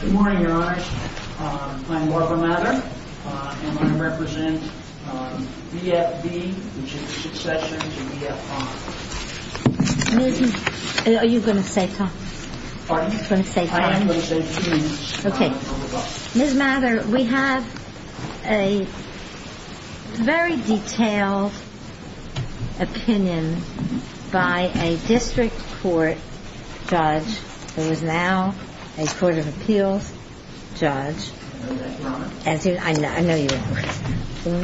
Good morning, Your Honor. I'm Barbara Mather. I'm going to represent VFB, which is a succession to VFR. Are you going to say time? Pardon? Are you going to say time? I am going to say two minutes. Judge, there is now a Court of Appeals judge. I know that, Your Honor. I know you are.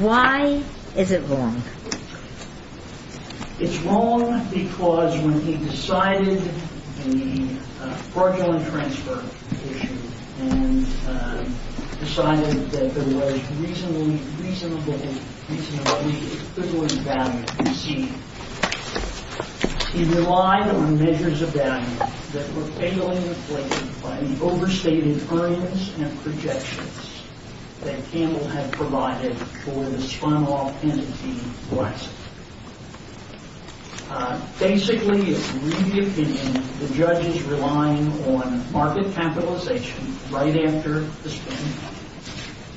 Why is it wrong? It's wrong because when he decided the fraudulent transfer issue and decided that there was reasonably equivalent value received, he relied on measures of value that were fatally inflated by the overstated earnings and projections that Campbell had provided for the spun-off penalty lawsuit. Basically, in my opinion, the judge is relying on market capitalization right after the spin,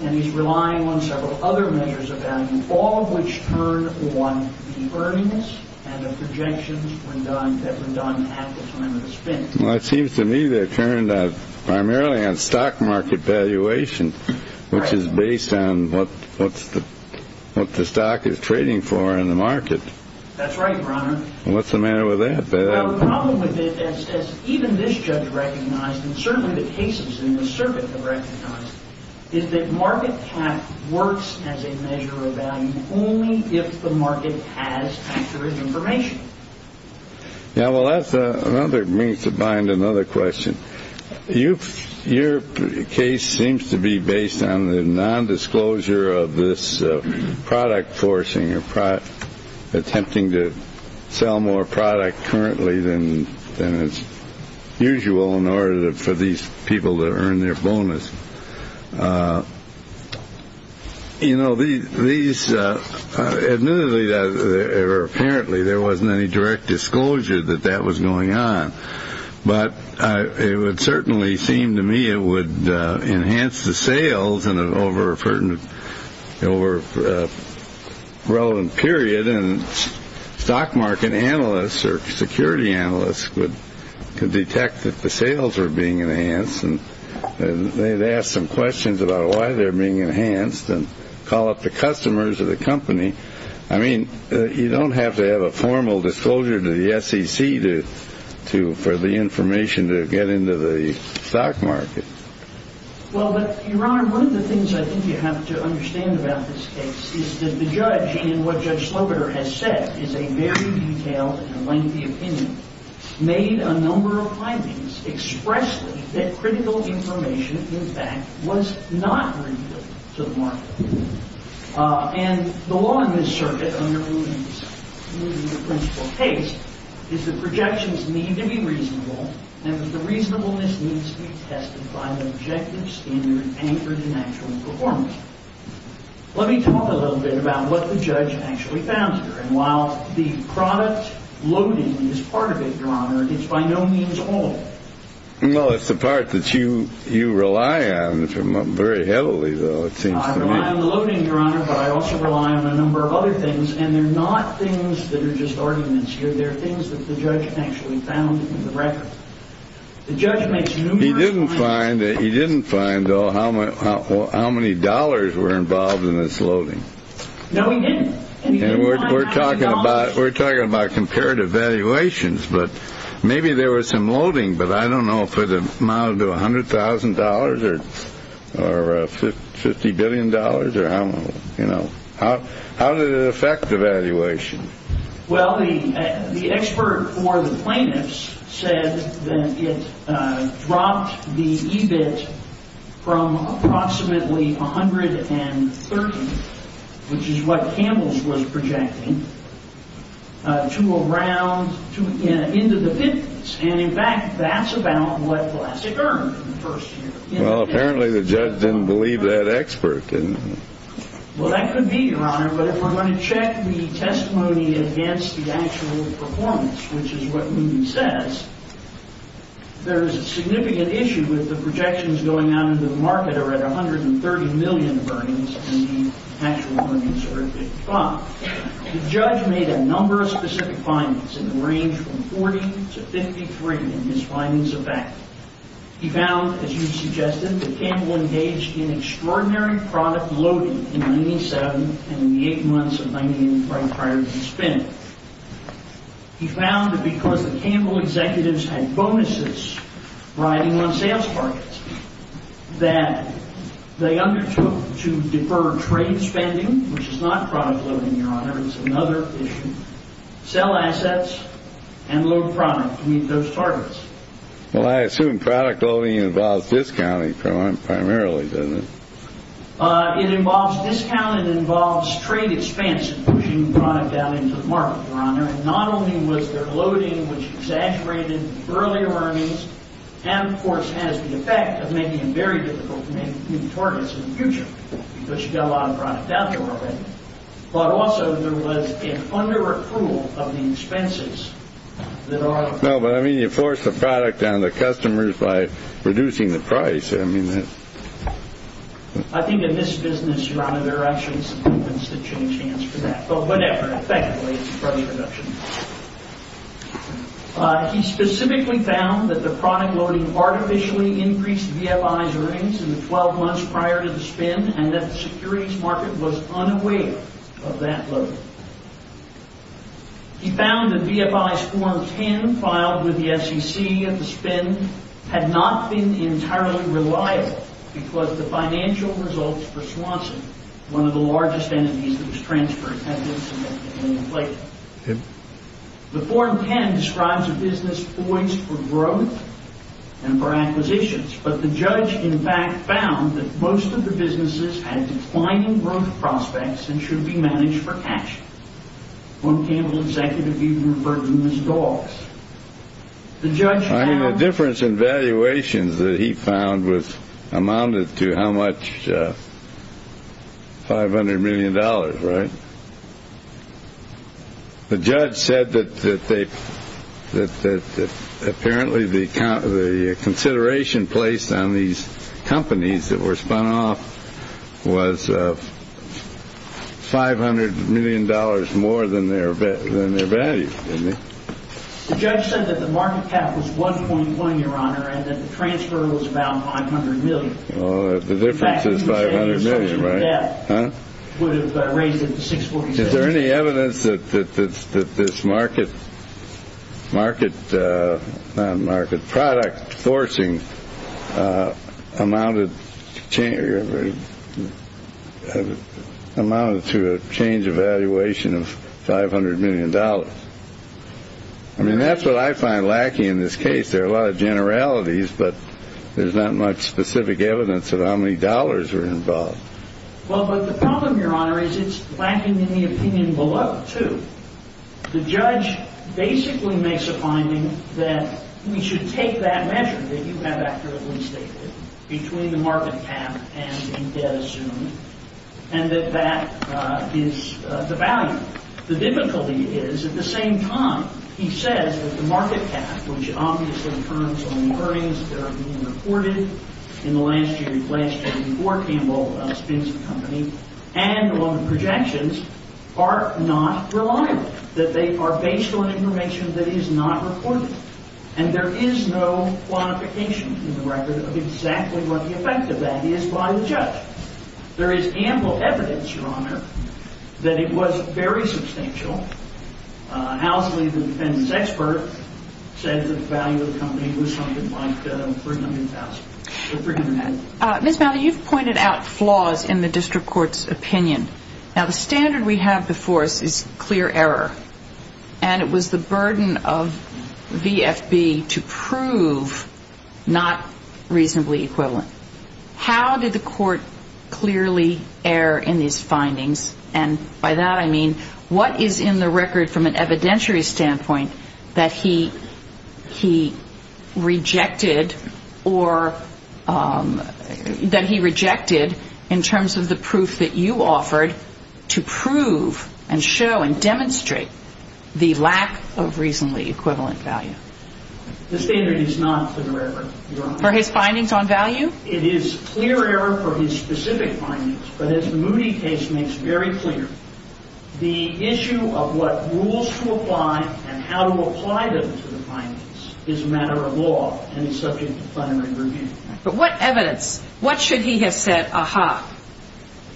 and he's relying on several other measures of value, all of which turn on the earnings and the projections that were done at the time of the spin. Well, it seems to me they turned primarily on stock market valuation, which is based on what the stock is trading for in the market. That's right, Your Honor. What's the matter with that? Well, the problem with it, as even this judge recognized and certainly the cases in the circuit have recognized, is that market cap works as a measure of value only if the market has captured information. Yeah, well, that's another reason to bind another question. Your case seems to be based on the nondisclosure of this product forcing or attempting to sell more product currently than it's usual in order for these people to earn their bonus. You know, these admittedly or apparently there wasn't any direct disclosure that that was going on, but it would certainly seem to me it would enhance the sales over a relevant period, and stock market analysts or security analysts could detect that the sales are being enhanced, and they'd ask some questions about why they're being enhanced and call up the customers of the company. I mean, you don't have to have a formal disclosure to the SEC for the information to get into the stock market. Well, but, Your Honor, one of the things I think you have to understand about this case is that the judge, and what Judge Slobiter has said is a very detailed and lengthy opinion, made a number of findings expressly that critical information, in fact, was not revealed to the market. And the law in this circuit under the principle of taste is that projections need to be reasonable, and that the reasonableness needs to be tested by the objective standard anchored in actual performance. Let me talk a little bit about what the judge actually found here. And while the product loading is part of it, Your Honor, it's by no means all of it. Well, it's the part that you rely on very heavily, though, it seems to me. I rely on the loading, Your Honor, but I also rely on a number of other things, and they're not things that are just arguments here. They're things that the judge actually found in the record. He didn't find, though, how many dollars were involved in this loading. No, he didn't. We're talking about comparative valuations, but maybe there was some loading, but I don't know if it amounted to $100,000 or $50 billion or how, you know. How did it affect the valuation? Well, the expert for the plaintiffs said that it dropped the EBIT from approximately 130, which is what Campbell's was projecting, to around, into the 50s. And, in fact, that's about what Glassick earned in the first year. Well, apparently the judge didn't believe that expert. Well, that could be, Your Honor, but if we're going to check the testimony against the actual performance, which is what Moody says, there's a significant issue with the projections going out into the market that are at 130 million earnings and the actual earnings are at 55. Now, the judge made a number of specific findings in the range from 40 to 53 in his findings of fact. He found, as you suggested, that Campbell engaged in extraordinary product loading in 97 and in the eight months of 98 right prior to the spin. He found that because the Campbell executives had bonuses riding on sales targets that they undertook to defer trade spending, which is not product loading, Your Honor. It's another issue. Sell assets and load product to meet those targets. Well, I assume product loading involves discounting primarily, doesn't it? It involves discount. It involves trade expansion, pushing product out into the market, Your Honor. And not only was there loading which exaggerated earlier earnings and, of course, has the effect of making it very difficult to meet targets in the future because you've got a lot of product out there already, but also there was an under-approval of the expenses that are No, but, I mean, you force the product down to the customers by reducing the price. I mean, that's I think in this business, Your Honor, there actually is a significant chance for that. But whatever. Thank you for the introduction. He specifically found that the product loading artificially increased VFI's earnings in the 12 months prior to the spin and that the securities market was unaware of that loading. He found that VFI's Form 10 filed with the SEC at the spin had not been entirely reliable because the financial results for Swanson, one of the largest entities that was transferred, had been submitted and inflated. The Form 10 describes a business poised for growth and for acquisitions, but the judge, in fact, found that most of the businesses had declining growth prospects and should be managed for cash. One Campbell executive even referred to them as dogs. I mean, the difference in valuations that he found amounted to how much? Five hundred million dollars, right? The judge said that apparently the consideration placed on these companies that were spun off was five hundred million dollars more than their value. The judge said that the market cap was 1.1, Your Honor, and that the transfer was about five hundred million. Well, the difference is five hundred million, right? Would have raised it to 647. Is there any evidence that this market product forcing amounted to a change of valuation of five hundred million dollars? I mean, that's what I find lacking in this case. There are a lot of generalities, but there's not much specific evidence of how many dollars were involved. Well, but the problem, Your Honor, is it's lacking in the opinion below, too. The judge basically makes a finding that we should take that measure that you have accurately stated between the market cap and indebted assumed, and that that is the value. The difficulty is, at the same time, he says that the market cap, which obviously turns on earnings that are being reported in the last year, last year before Campbell spins the company and on the projections, are not reliable, that they are based on information that is not reported. And there is no quantification in the record of exactly what the effect of that is by the judge. There is ample evidence, Your Honor, that it was very substantial. Housley, the defendant's expert, said that the value of the company was something like $300,000. Ms. Mather, you've pointed out flaws in the district court's opinion. Now, the standard we have before us is clear error, and it was the burden of the VFB to prove not reasonably equivalent. How did the court clearly err in these findings? And by that I mean what is in the record from an evidentiary standpoint that he rejected or that he rejected in terms of the proof that you offered to prove and show and demonstrate the lack of reasonably equivalent value? The standard is not in the record, Your Honor. For his findings on value? It is clear error for his specific findings, but as the Moody case makes very clear, the issue of what rules to apply and how to apply them to the findings is a matter of law and is subject to primary review. But what evidence, what should he have said, ah-ha,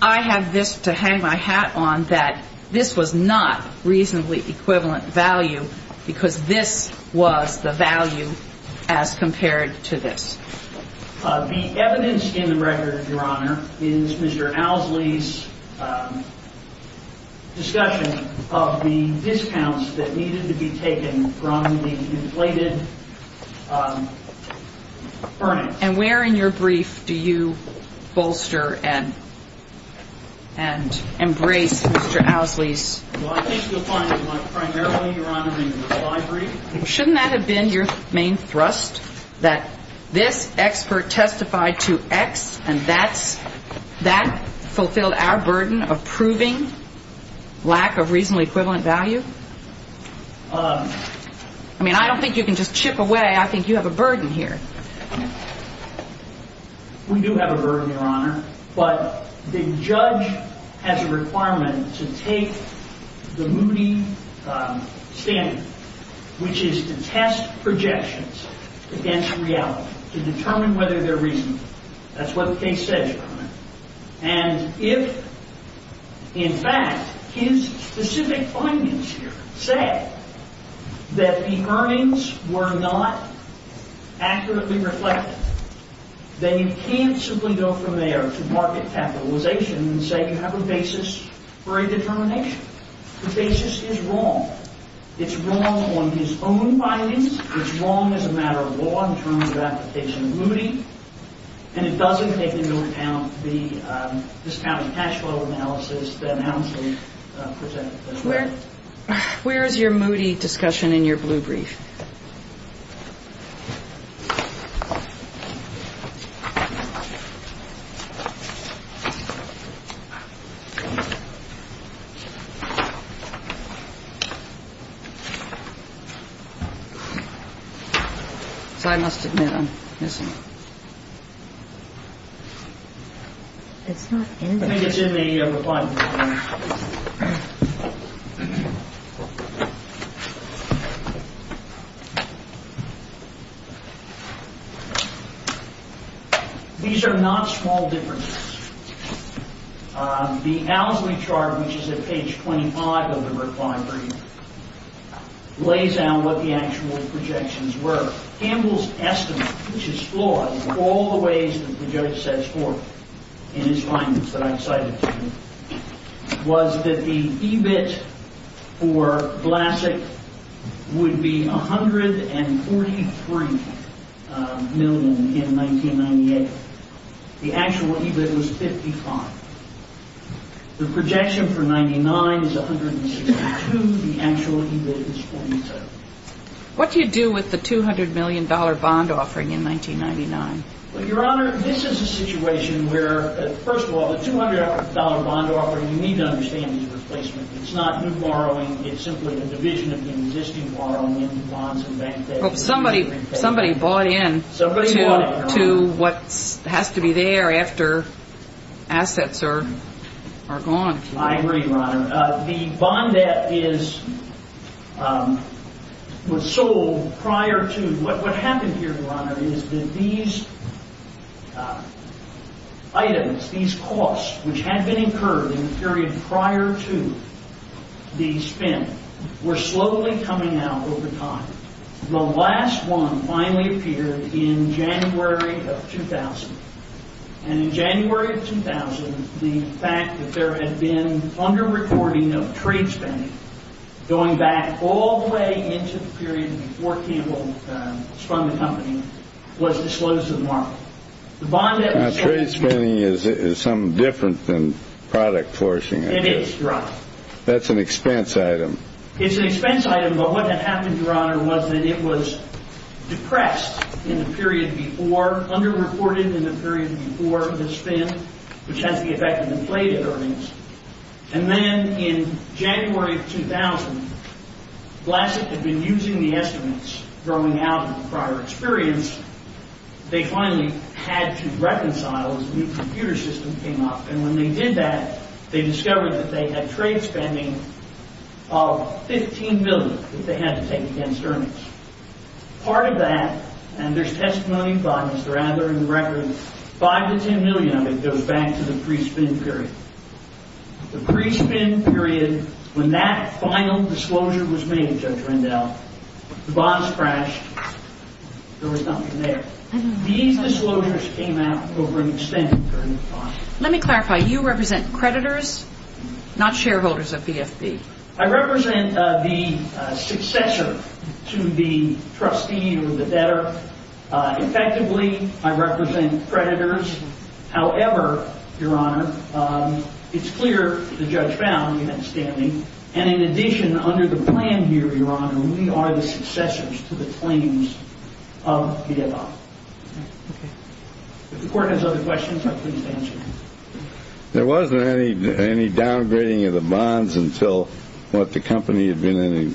I have this to hang my hat on that this was not reasonably equivalent value because this was the value as compared to this? The evidence in the record, Your Honor, is Mr. Owsley's discussion of the discounts that needed to be taken from the inflated earnings. And where in your brief do you bolster and embrace Mr. Owsley's? Well, I think you'll find it primarily, Your Honor, in the reply brief. Shouldn't that have been your main thrust, that this expert testified to X and that fulfilled our burden of proving lack of reasonably equivalent value? I mean, I don't think you can just chip away. I think you have a burden here. We do have a burden, Your Honor, but the judge has a requirement to take the Moody standard, which is to test projections against reality to determine whether they're reasonable. That's what the case says, Your Honor. And if, in fact, his specific findings here say that the earnings were not accurately reflected, then you can't simply go from there to market capitalization and say you have a basis for a determination. The basis is wrong. It's wrong on his own findings. It's wrong as a matter of law in terms of application of Moody. And it doesn't take into account the discounted cash flow analysis that Owsley presented. Where is your Moody discussion in your blue brief? I must admit I'm missing it. I think it's in the reply brief. These are not small differences. The Owsley chart, which is at page 25 of the reply brief, lays out what the actual projections were. Campbell's estimate, which is flawed in all the ways that the judge sets forth in his findings that I cited to you, was that the EBIT for Blasek would be $143 million in 1998. The actual EBIT was $55. The projection for $99 is $162. The actual EBIT is $42. What do you do with the $200 million bond offering in 1999? Your Honor, this is a situation where, first of all, the $200 bond offering, you need to understand the replacement. It's not new borrowing. It's simply a division of the existing borrowing into bonds and bank debts. Somebody bought in to what has to be there after assets are gone. I agree, Your Honor. The bond debt was sold prior to. What happened here, Your Honor, is that these items, these costs, which had been incurred in the period prior to the spin, were slowly coming out over time. The last one finally appeared in January of 2000. In January of 2000, the fact that there had been under-reporting of trade spending going back all the way into the period before Campbell spun the company was the slowest in the market. Now, trade spending is something different than product forcing. It is, Your Honor. That's an expense item. The other was that it was depressed in the period before, under-reported in the period before the spin, which has the effect of inflated earnings. And then in January of 2000, Blasek had been using the estimates growing out of the prior experience. They finally had to reconcile as a new computer system came up. And when they did that, they discovered that they had trade spending of $15 million that they had to take against earnings. Part of that, and there's testimony by Mr. Adler in the record, 5 to 10 million of it goes back to the pre-spin period. The pre-spin period, when that final disclosure was made, Judge Rendell, the bonds crashed. There was nothing there. These disclosures came out over an extended period of time. Let me clarify. You represent creditors, not shareholders of BFB. I represent the successor to the trustee or the debtor. Effectively, I represent creditors. However, Your Honor, it's clear the judge found the outstanding. And in addition, under the plan here, Your Honor, we are the successors to the claims of BFB. If the court has other questions, I'm pleased to answer them. There wasn't any downgrading of the bonds until the company had been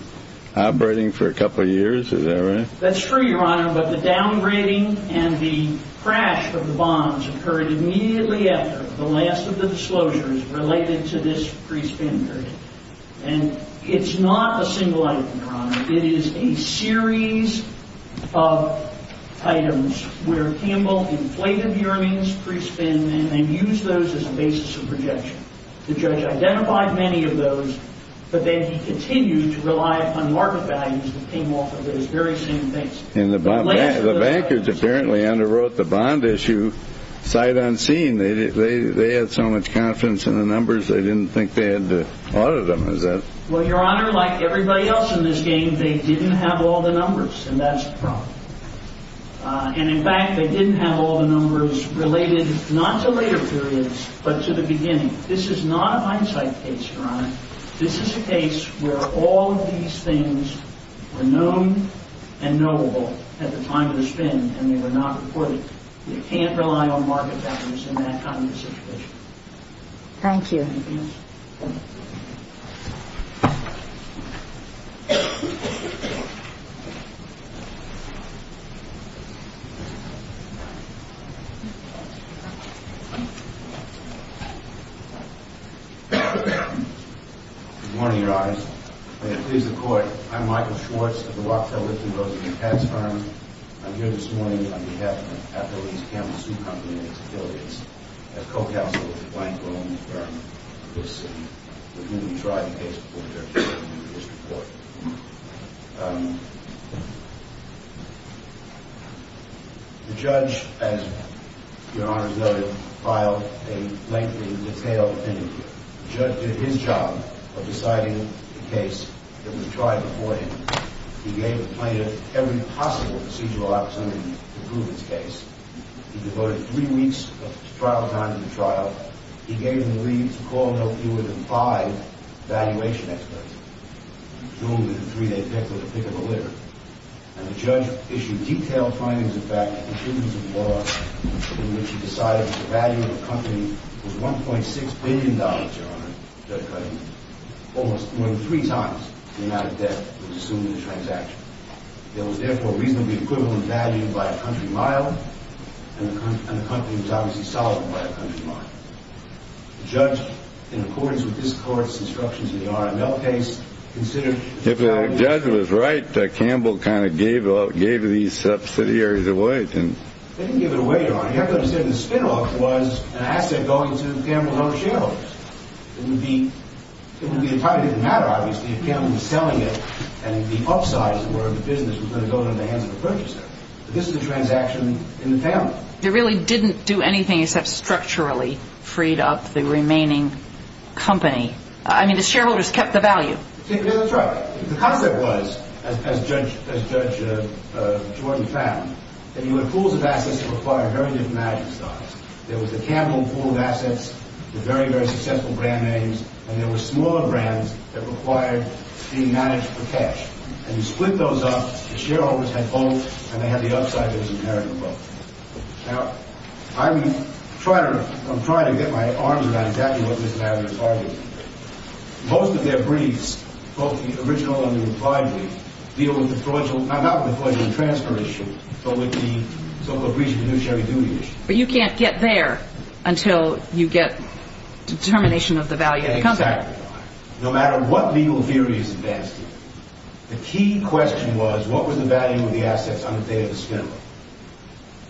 operating for a couple of years. Is that right? That's true, Your Honor. But the downgrading and the crash of the bonds occurred immediately after the last of the disclosures related to this pre-spin period. And it's not a single item, Your Honor. It is a series of items where Campbell inflated hearings, pre-spin, and then used those as a basis of projection. The judge identified many of those, but then he continued to rely on market values that came off of those very same things. And the bankers apparently underwrote the bond issue sight unseen. They had so much confidence in the numbers, they didn't think they had to audit them. Well, Your Honor, like everybody else in this game, they didn't have all the numbers, and that's a problem. And, in fact, they didn't have all the numbers related not to later periods but to the beginning. This is not a hindsight case, Your Honor. This is a case where all of these things were known and knowable at the time of the spin, and they were not reported. You can't rely on market values in that kind of a situation. Thank you. Thank you, Judge. Good morning, Your Honor. May it please the Court, I'm Michael Schwartz of the Lock, Tail, Lift, and Roses and Pets firm. I'm here this morning on behalf of Appellee's Camel Sioux Company and its affiliates as co-counsel of the Blank Rome firm of this city, with whom we tried the case before the court. The judge, as Your Honor noted, filed a lengthy, detailed interview. The judge did his job of deciding the case that was tried before him. He gave a plaintiff every possible procedural opportunity to prove his case. He devoted three weeks of trial time to the trial. He gave him the leave to call no fewer than five valuation experts. He ruled that a three-day pick was a pick of the litter. And the judge issued detailed findings, in fact, of the prudence of the law in which he decided that the value of the company was $1.6 billion, Your Honor, Judge Clayton, almost more than three times the amount of debt that was assumed in the transaction. It was, therefore, reasonably equivalent value by a country mile, and the company was obviously solid by a country mile. The judge, in accordance with this Court's instructions in the RML case, considered... If the judge was right, Campbell kind of gave these subsidiaries away, didn't he? They didn't give it away, Your Honor. You have to understand, the spinoff was an asset going to Campbell's own shareholders. It would be a private matter, obviously, if Campbell was selling it, and the upsides were the business was going to go into the hands of a purchaser. But this was a transaction in the family. They really didn't do anything except structurally free up the remaining company. I mean, the shareholders kept the value. That's right. The concept was, as Judge Jordan found, that you had pools of assets that required very different management styles. There was the Campbell pool of assets, the very, very successful brand names, and there were smaller brands that required being managed for cash. And you split those up. The shareholders had both, and they had the upside that it was a marital problem. Now, I'm trying to get my arms around exactly what this marital problem is. Most of their briefs, both the original and the replied brief, deal with the fraudulent... Not with the fraudulent transfer issue, but with the so-called breach of the new Sherry Doody issue. But you can't get there until you get determination of the value of the company. Exactly right. No matter what legal theory is advanced here, the key question was, what was the value of the assets on the day of the scandal?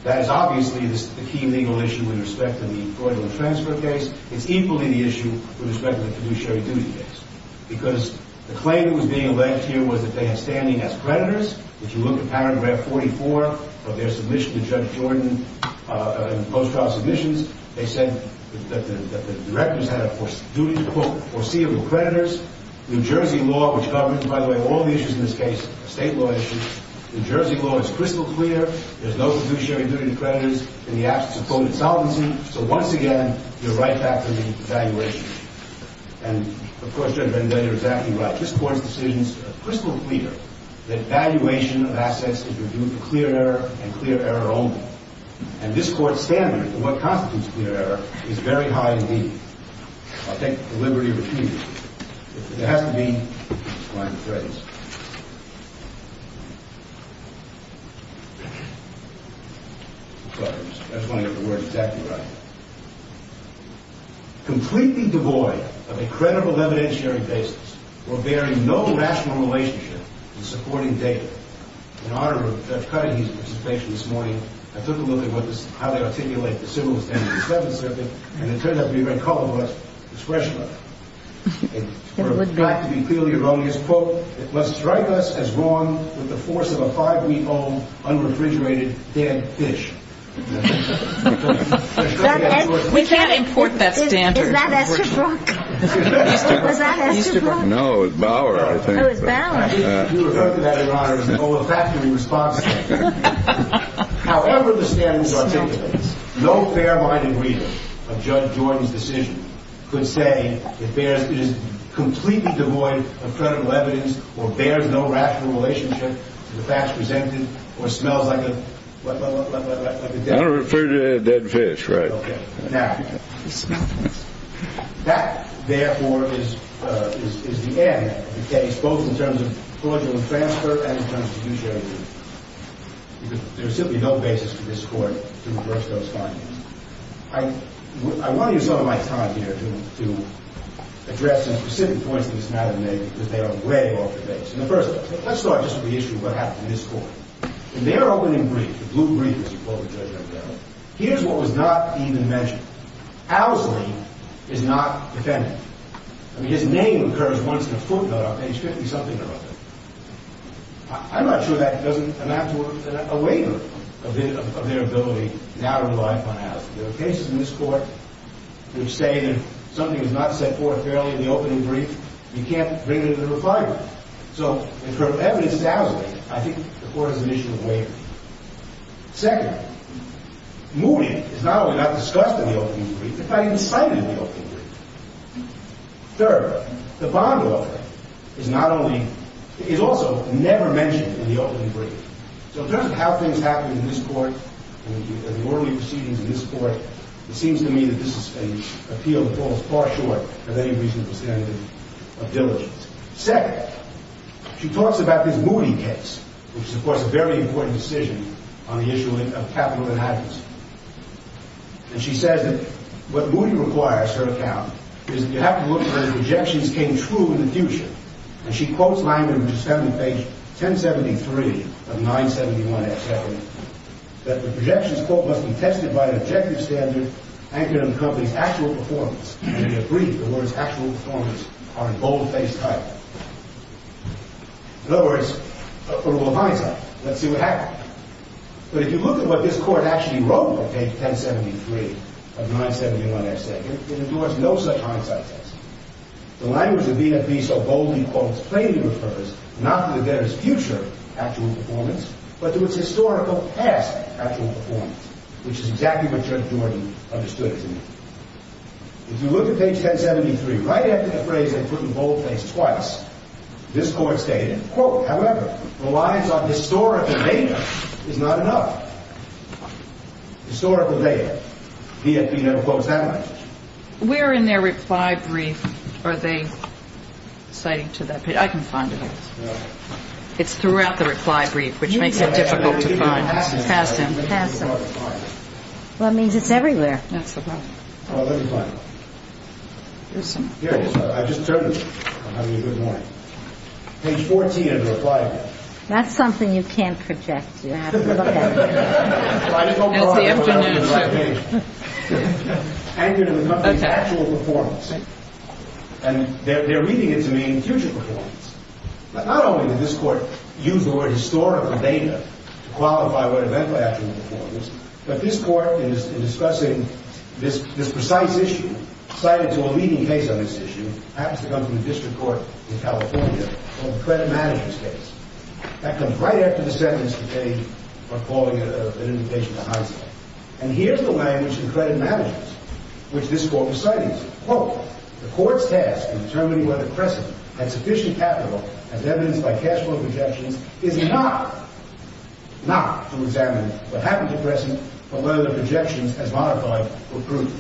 That is obviously the key legal issue with respect to the fraudulent transfer case. It's equally the issue with respect to the new Sherry Doody case, because the claim that was being alleged here was that they had standing as creditors, which you look at paragraph 44 of their submission to Judge Jordan in post-trial submissions. They said that the directors had a duty to, quote, foreseeable creditors. New Jersey law, which governs, by the way, all the issues in this case, state law issues, New Jersey law is crystal clear. There's no fiduciary duty to creditors in the absence of quote, insolvency. So once again, you're right back to the valuation issue. And of course, Judge Bender is exactly right. This Court's decisions are crystal clear that valuation of assets is due to clear error and clear error only. And this Court's standard for what constitutes clear error is very high indeed. I'll take the liberty of repeating it. There has to be a fine phrase. That's one of the words exactly right. Completely devoid of a credible evidentiary basis, or bearing no rational relationship to supporting data. In honor of Judge Cuddy's participation this morning, I took a look at how they articulate the civilist end of the Seventh Circuit, and it turned out to be a very colorless expression of it. In fact, to be clearly erroneous, quote, it must strike us as wrong with the force of a five-week-old, unrefrigerated, damned fish. We can't import that standard. Is that Esther Brock? Was that Esther Brock? No, it was Bauer, I think. Oh, it was Bauer. You referred to that, Your Honor, as an olfactory response statement. However the standards articulate, no fair-minded reader of Judge Jordan's decision could say it is completely devoid of credible evidence, or bears no rational relationship to the facts presented, or smells like a dead fish. I don't refer to it as a dead fish, right. Okay. Now, that, therefore, is the end of the case, both in terms of fraudulent transfer and in terms of judiciary review. There is simply no basis for this Court to reverse those findings. I want to use some of my time here to address some specific points that this matter may be, because they are way off the base. And the first, let's start just with the issue of what happened to this Court. In their opening brief, the blue brief, as you quoted Judge O'Donnell, here's what was not even mentioned. Owsley is not defendant. I mean, his name occurs once in a footnote on page 50-something or other. I'm not sure that doesn't amount to a waiver of their ability now to rely upon Owsley. There are cases in this Court which say that something is not set forth fairly in the opening brief. You can't bring it into the refinery. So, as far as evidence is Owsley, I think the Court has an issue of waiver. Second, Mooney is not only not discussed in the opening brief, it's not even cited in the opening brief. Third, the bond offer is also never mentioned in the opening brief. So, in terms of how things happen in this Court and the orderly proceedings in this Court, it seems to me that this is an appeal that falls far short of any reasonable standard of diligence. Second, she talks about this Mooney case, which is, of course, a very important decision on the issue of capital inheritance. And she says that what Mooney requires, her account, is that you have to look for the projections came true in the future. And she quotes Langdon, which is found on page 1073 of 971-X-70, that the projections quote must be tested by an objective standard anchored on the company's actual performance. And in the brief, the words actual performance are in boldface type. In other words, for a little hindsight, let's see what happened. But if you look at what this Court actually wrote on page 1073 of 971-X-70, it ignores no such hindsight test. The language of being at peace so boldly, quote, plainly refers not to the debtor's future actual performance, but to its historical past actual performance, which is exactly what Judge Jordan understood it to be. If you look at page 1073, right after the phrase they put in boldface twice, this Court stated, quote, however, relies on historical data is not enough. Historical data. The FBI never quotes that much. Where in their reply brief are they citing to that page? I can find it. It's throughout the reply brief, which makes it difficult to find. Pass them. Pass them. Well, that means it's everywhere. That's the problem. Well, let me find it. Here it is. I just turned it. I'm having a good morning. Page 14 of the reply brief. That's something you can't project. You have to look at it. It's the afternoon show. Anchored in the company's actual performance. And they're reading it to mean future performance. Not only did this Court use the word historical data to qualify what eventually actual performance, but this Court, in discussing this precise issue, cited to a leading case on this issue, happens to come from the District Court in California, called the credit managers case. That comes right after the sentence that they are calling an indication of a heist. And here's the language in credit managers, which this Court was citing. Quote, the Court's task in determining whether Crescent had sufficient capital as evidenced by cash flow projections is not to examine what happened to Crescent or whether the projections as modified were proven.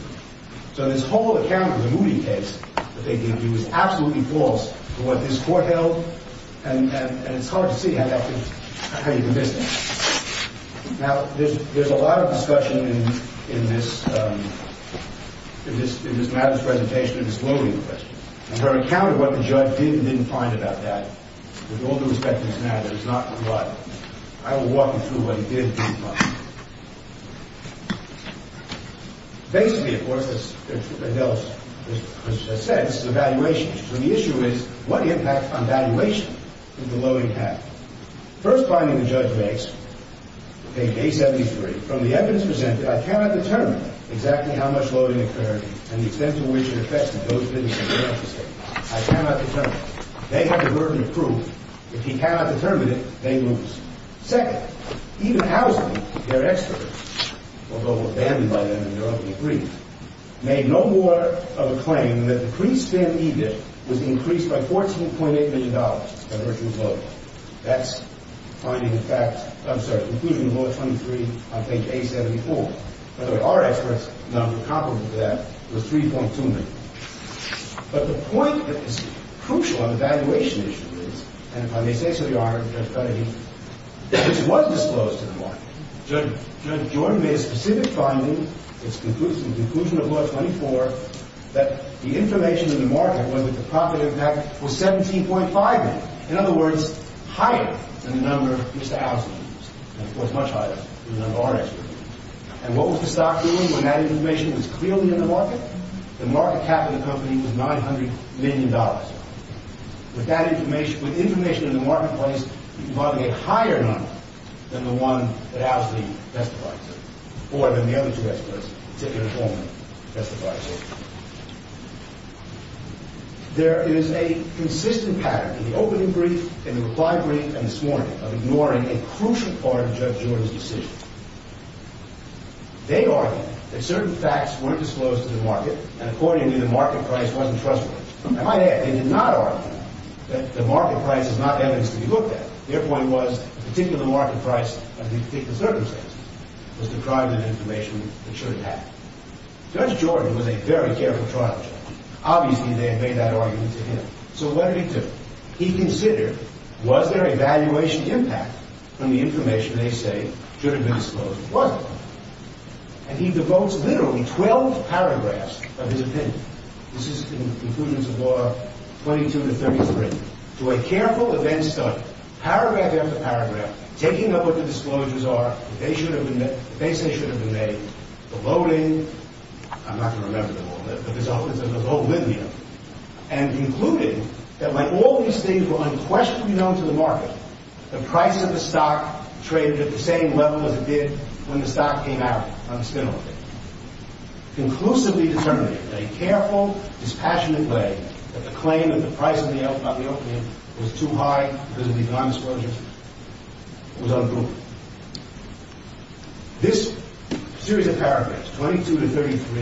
So this whole account of the Moody case that they gave you is absolutely false for what this Court held. And it's hard to see how you can miss that. Now, there's a lot of discussion in this matter's presentation of this loading question. And her account of what the judge did and didn't find about that, with all due respect to this matter, is not reliable. I will walk you through what he did and didn't find. Basically, of course, as Adele has said, this is a valuation. So the issue is, what impact on valuation did the loading have? First finding the judge makes, okay, day 73, from the evidence presented, I cannot determine exactly how much loading occurred and the extent to which it affects me. I cannot determine. They have the verdict of proof. If he cannot determine it, they lose. Second, even Housley, their expert, although abandoned by them in their opening brief, made no more of a claim than that the pre-spent EDIP was increased by $14.8 million by virtue of loading. That's finding the fact, I'm sorry, conclusion of Law 23 on page 874. By the way, our expert's number comparable to that was 3.2 million. But the point that is crucial on the valuation issue is, and if I may say so, Your Honor, Judge Carnegie, which was disclosed to the market, Jordan made a specific finding, its conclusion of Law 24, that the information in the market was that the profit impact was 17.5 million. In other words, higher than the number Mr. Housley used, and of course, much higher than the number our expert used. And what was the stock doing when that information was clearly in the market? The market cap of the company was $900 million. With information in the marketplace involving a higher number than the one that Housley testified to, or than the other two experts, particularly Coleman, testified to. There is a consistent pattern in the opening brief, in the reply brief, and this morning, of ignoring a crucial part of Judge Jordan's decision. They argued that certain facts weren't disclosed to the market, and accordingly, the market price wasn't trustworthy. I might add, they did not argue that the market price is not evidence to be looked at. Their point was, the particular market price of the particular circumstance was deprived of information that should have been. Judge Jordan was a very careful trial judge. Obviously, they had made that argument to him. So what did he do? And he devotes literally 12 paragraphs of his opinion, this is in the conclusions of Law 22 to 33, to a careful event study, paragraph after paragraph, taking up what the disclosures are, what they say should have been made, the loading, I'm not going to remember them all, but there's a whole linear, and concluding that like all these things were unquestionably known to the market, the price of the stock traded at the same level as it did when the stock came out on the spin-off day. Conclusively determined in a careful, dispassionate way that the claim that the price of the opium was too high because of the economy's closures was unproven. This series of paragraphs, 22 to 33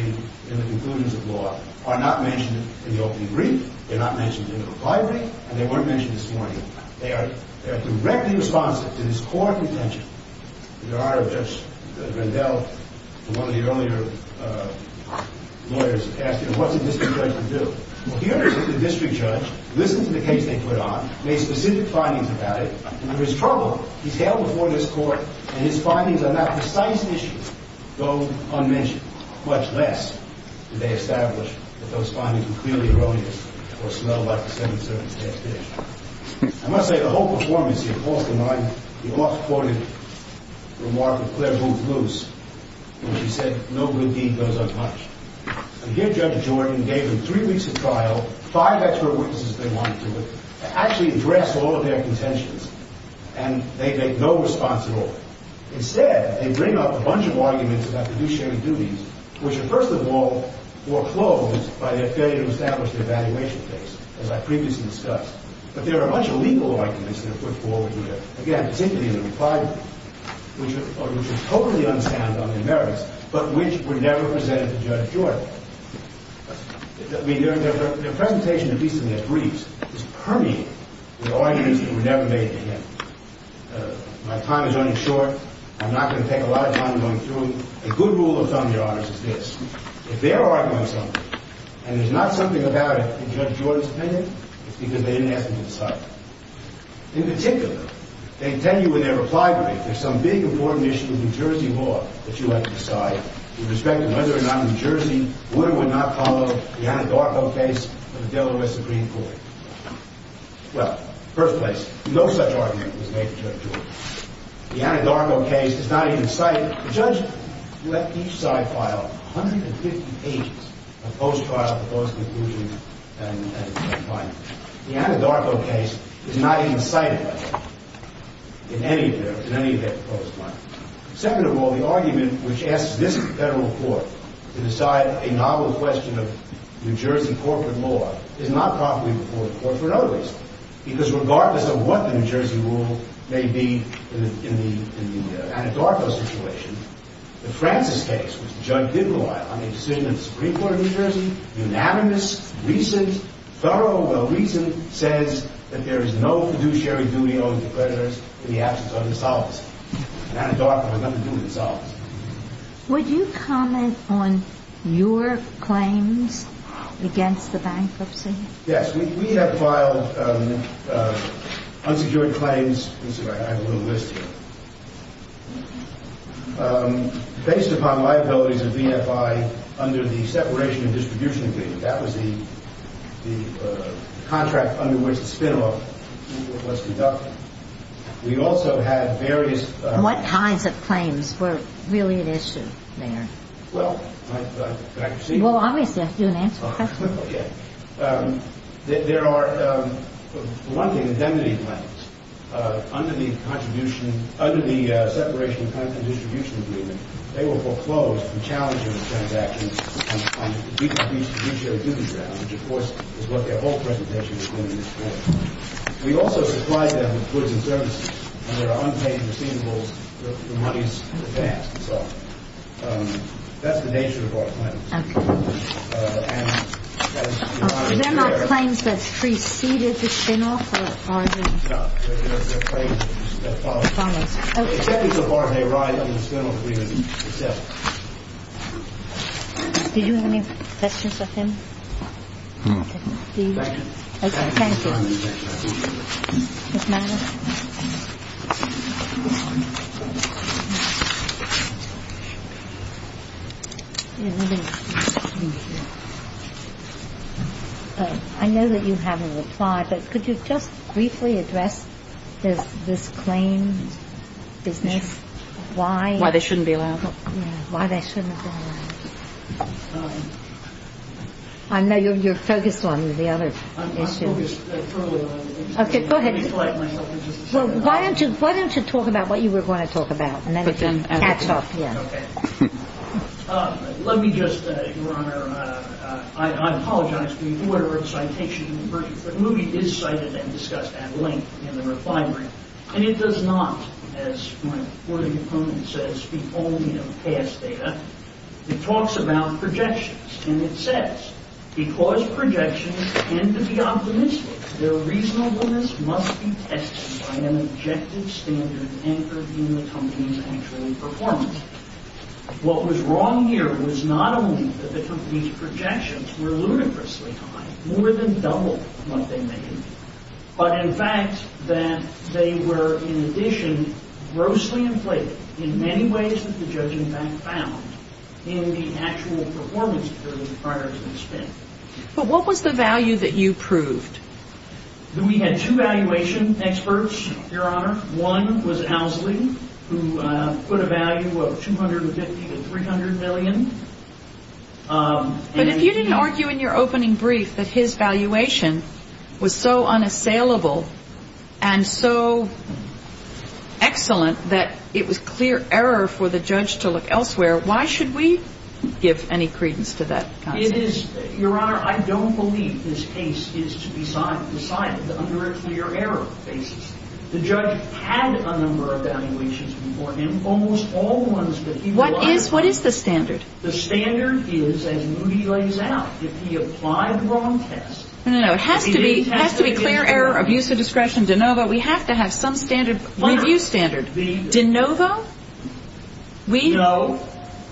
in the conclusions of Law, are not mentioned in the opening brief, they're not mentioned in the reply brief, and they weren't mentioned this morning. They are directly responsive to this court contention. There are, Judge Rendell, one of the earlier lawyers, asked him, what's a district judge to do? Well, he understood the district judge, listened to the case they put on, made specific findings about it, and under his trouble, he's held before this court, and his findings on that precise issue go unmentioned, much less do they establish that those findings were clearly erroneous or smelled like the 7th Circuit's pastiche. I must say, the whole performance here calls to mind the oft-quoted remark of Claire Booth Luce in which she said, no good deed goes unpunished. Again, Judge Jordan gave them three weeks of trial, five expert witnesses they wanted to look at, to actually address all of their contentions, and they make no response at all. Instead, they bring up a bunch of arguments about reduced sharing duties, which are first of all foreclosed by their failure to establish the evaluation case, as I previously discussed. But there are a bunch of legal arguments they put forward here, again, particularly in the reply room, which are totally unsound on their merits, but which were never presented to Judge Jordan. I mean, their presentation, at least in their briefs, is permeated with arguments that were never made to him. My time is running short. I'm not going to take a lot of time going through. A good rule of thumb, Your Honors, is this. If they're arguing something, and there's not something about it that Judge Jordan submitted, it's because they didn't ask him to decide. In particular, they tell you in their reply brief, there's some big important issue with New Jersey law that you have to decide, with respect to whether or not New Jersey would or would not follow the Anadarko case of the Delaware Supreme Court. Well, first place, no such argument was made to Judge Jordan. The Anadarko case is not even cited. The judge left each side file 150 pages of post-trial, post-conclusion, and findings. The Anadarko case is not even cited, in any of their proposed findings. Second of all, the argument which asks this federal court to decide a novel question of New Jersey corporate law is not properly before the court for another reason. Because regardless of what the New Jersey rule may be in the Anadarko situation, the Francis case, which the judge did rely on a decision of the Supreme Court of New Jersey, unanimous, recent, thorough, well-recent, says that there is no fiduciary duty owed to the creditors in the absence of insolvency. Anadarko has nothing to do with insolvency. Would you comment on your claims against the bankruptcy? Yes. We have filed unsecured claims. Let me see if I have a little list here. Based upon liabilities of VFI under the Separation and Distribution Agreement, that was the contract under which the spin-off was conducted. We also had various... What kinds of claims were really at issue there? Well, can I proceed? Well, obviously, I have to do an answer question. There are, for one thing, indemnity claims. Under the Separation and Distribution Agreement, they were foreclosed from challenging the transactions on fiduciary duty grounds, which, of course, is what their whole presentation is going to explore. We also supplied them with goods and services, and there are unpaid receivables for monies advanced. That's the nature of our claims. Okay. Are there no claims that preceded the spin-off? No. There's a claim that follows. It's a part of a ride on the spin-off agreement itself. Did you have any questions of him? No. Thank you. Okay, thank you. What's the matter? I know that you haven't replied, but could you just briefly address this claim business? Why? Why they shouldn't be allowed. Yeah, why they shouldn't be allowed. I know you're focused on the other issues. Okay, go ahead. Why don't you talk about what you were going to talk about, and then we'll catch up. Okay. Let me just, Your Honor, I apologize for the order of citation. The movie is cited and discussed at length in the refinery, and it does not, as my reporting opponent says, speak only of past data. It talks about projections, and it says, because projections tend to be optimistic, their reasonableness must be tested by an objective standard anchored in the company's actual performance. What was wrong here was not only that the company's projections were ludicrously high, more than double what they made, but in fact that they were, in addition, grossly inflated in many ways that the judge in fact found in the actual performance period prior to the spin. But what was the value that you proved? We had two valuation experts, Your Honor. One was Owsley, who put a value of $250 to $300 million. But if you didn't argue in your opening brief that his valuation was so unassailable and so excellent that it was clear error for the judge to look elsewhere, why should we give any credence to that concept? Your Honor, I don't believe this case is to be decided under a clear error basis. The judge had a number of valuations before him, almost all the ones that he provided. What is the standard? The standard is, as Moody lays out, if he applied the wrong test... No, no, no. It has to be clear error, abuse of discretion, de novo. We have to have some review standard. De novo? No.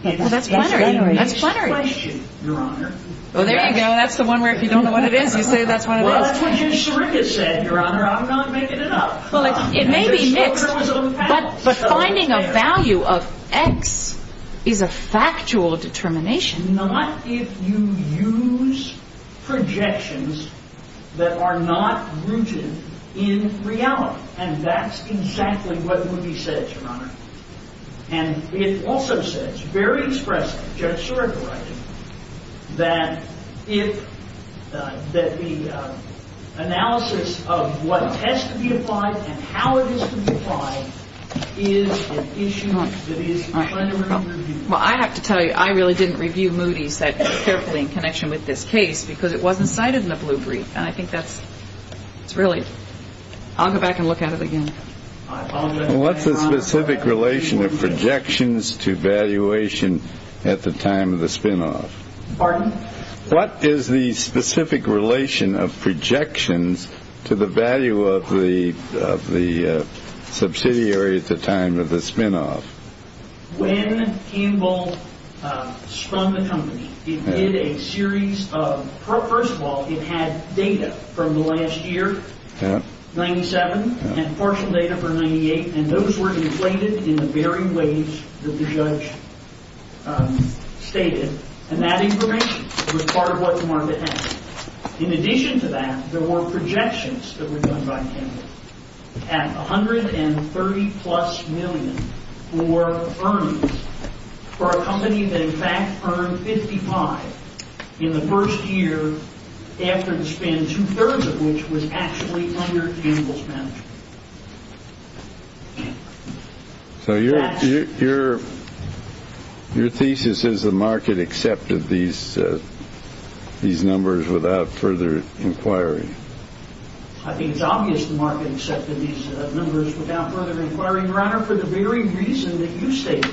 Oh, that's plenary. That's plenary. Abuse of discretion, Your Honor. Well, there you go. That's the one where if you don't know what it is, you say that's what it is. Well, that's what Judge Seringa said, Your Honor. I'm not making it up. Well, it may be mixed, but finding a value of X is a factual determination. Not if you use projections that are not rooted in reality. And that's exactly what Moody said, Your Honor. And it also says very expressively, Judge Seringa writing, that the analysis of what has to be applied and how it is to be applied is an issue that is... Well, I have to tell you, I really didn't review Moody's that carefully in connection with this case because it wasn't cited in the blue brief. And I think that's really... I'll go back and look at it again. What's the specific relation of projections to valuation at the time of the spinoff? Pardon? What is the specific relation of projections to the value of the subsidiary at the time of the spinoff? When Campbell strung the company, it did a series of... First of all, it had data from the last year, 97, and partial data for 98. And those were inflated in the very ways that the judge stated. And that information was part of what the market had. In addition to that, there were projections that were done by Campbell at $130-plus million worth of earnings for a company that in fact earned $55 in the first year after the spin, two-thirds of which was actually under Campbell's management. So your thesis is the market accepted these numbers without further inquiry? I think it's obvious the market accepted these numbers without further inquiry, Your Honor, for the very reason that you stated.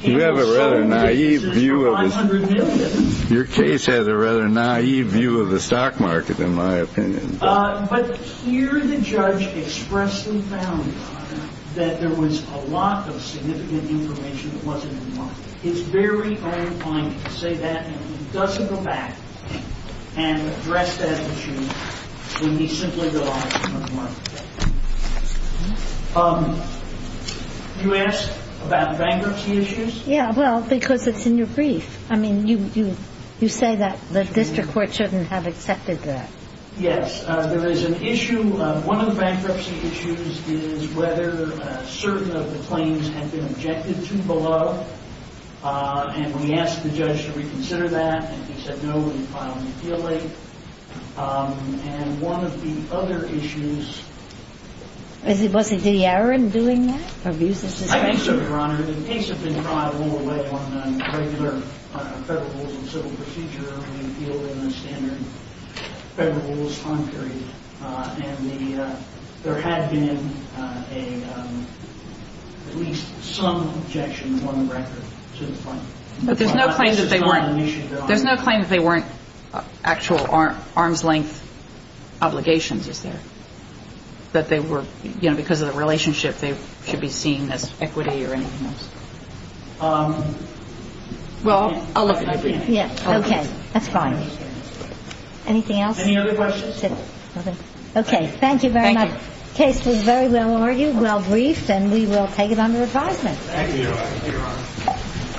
You have a rather naive view of this. Your case has a rather naive view of the stock market, in my opinion. But here the judge expressly found that there was a lot of significant information that wasn't in the market. It's very, very important to say that and he doesn't go back and address that issue when we simply go on from the market. You asked about bankruptcy issues? Yeah, well, because it's in your brief. I mean, you say that the district court shouldn't have accepted that. Yes, there is an issue. One of the bankruptcy issues is whether certain of the claims had been objected to below. And we asked the judge, should we consider that? And he said, no, we'd file an appeal late. And one of the other issues... Was it DeAaron doing that? I think so, Your Honor. Your Honor, the case has been tried all the way on a regular federal rules and civil procedure and appealed in a standard federal rules time period. And there had been at least some objection on the record to the claim. But there's no claim that they weren't... There's no claim that they weren't actual arm's length obligations, is there? That they were, you know, because of the relationship or if they should be seen as equity or anything else. Well, I'll look at it. Okay, that's fine. Anything else? Any other questions? Okay, thank you very much. Case was very well argued, well briefed, and we will take it under advisement. Thank you, Your Honor.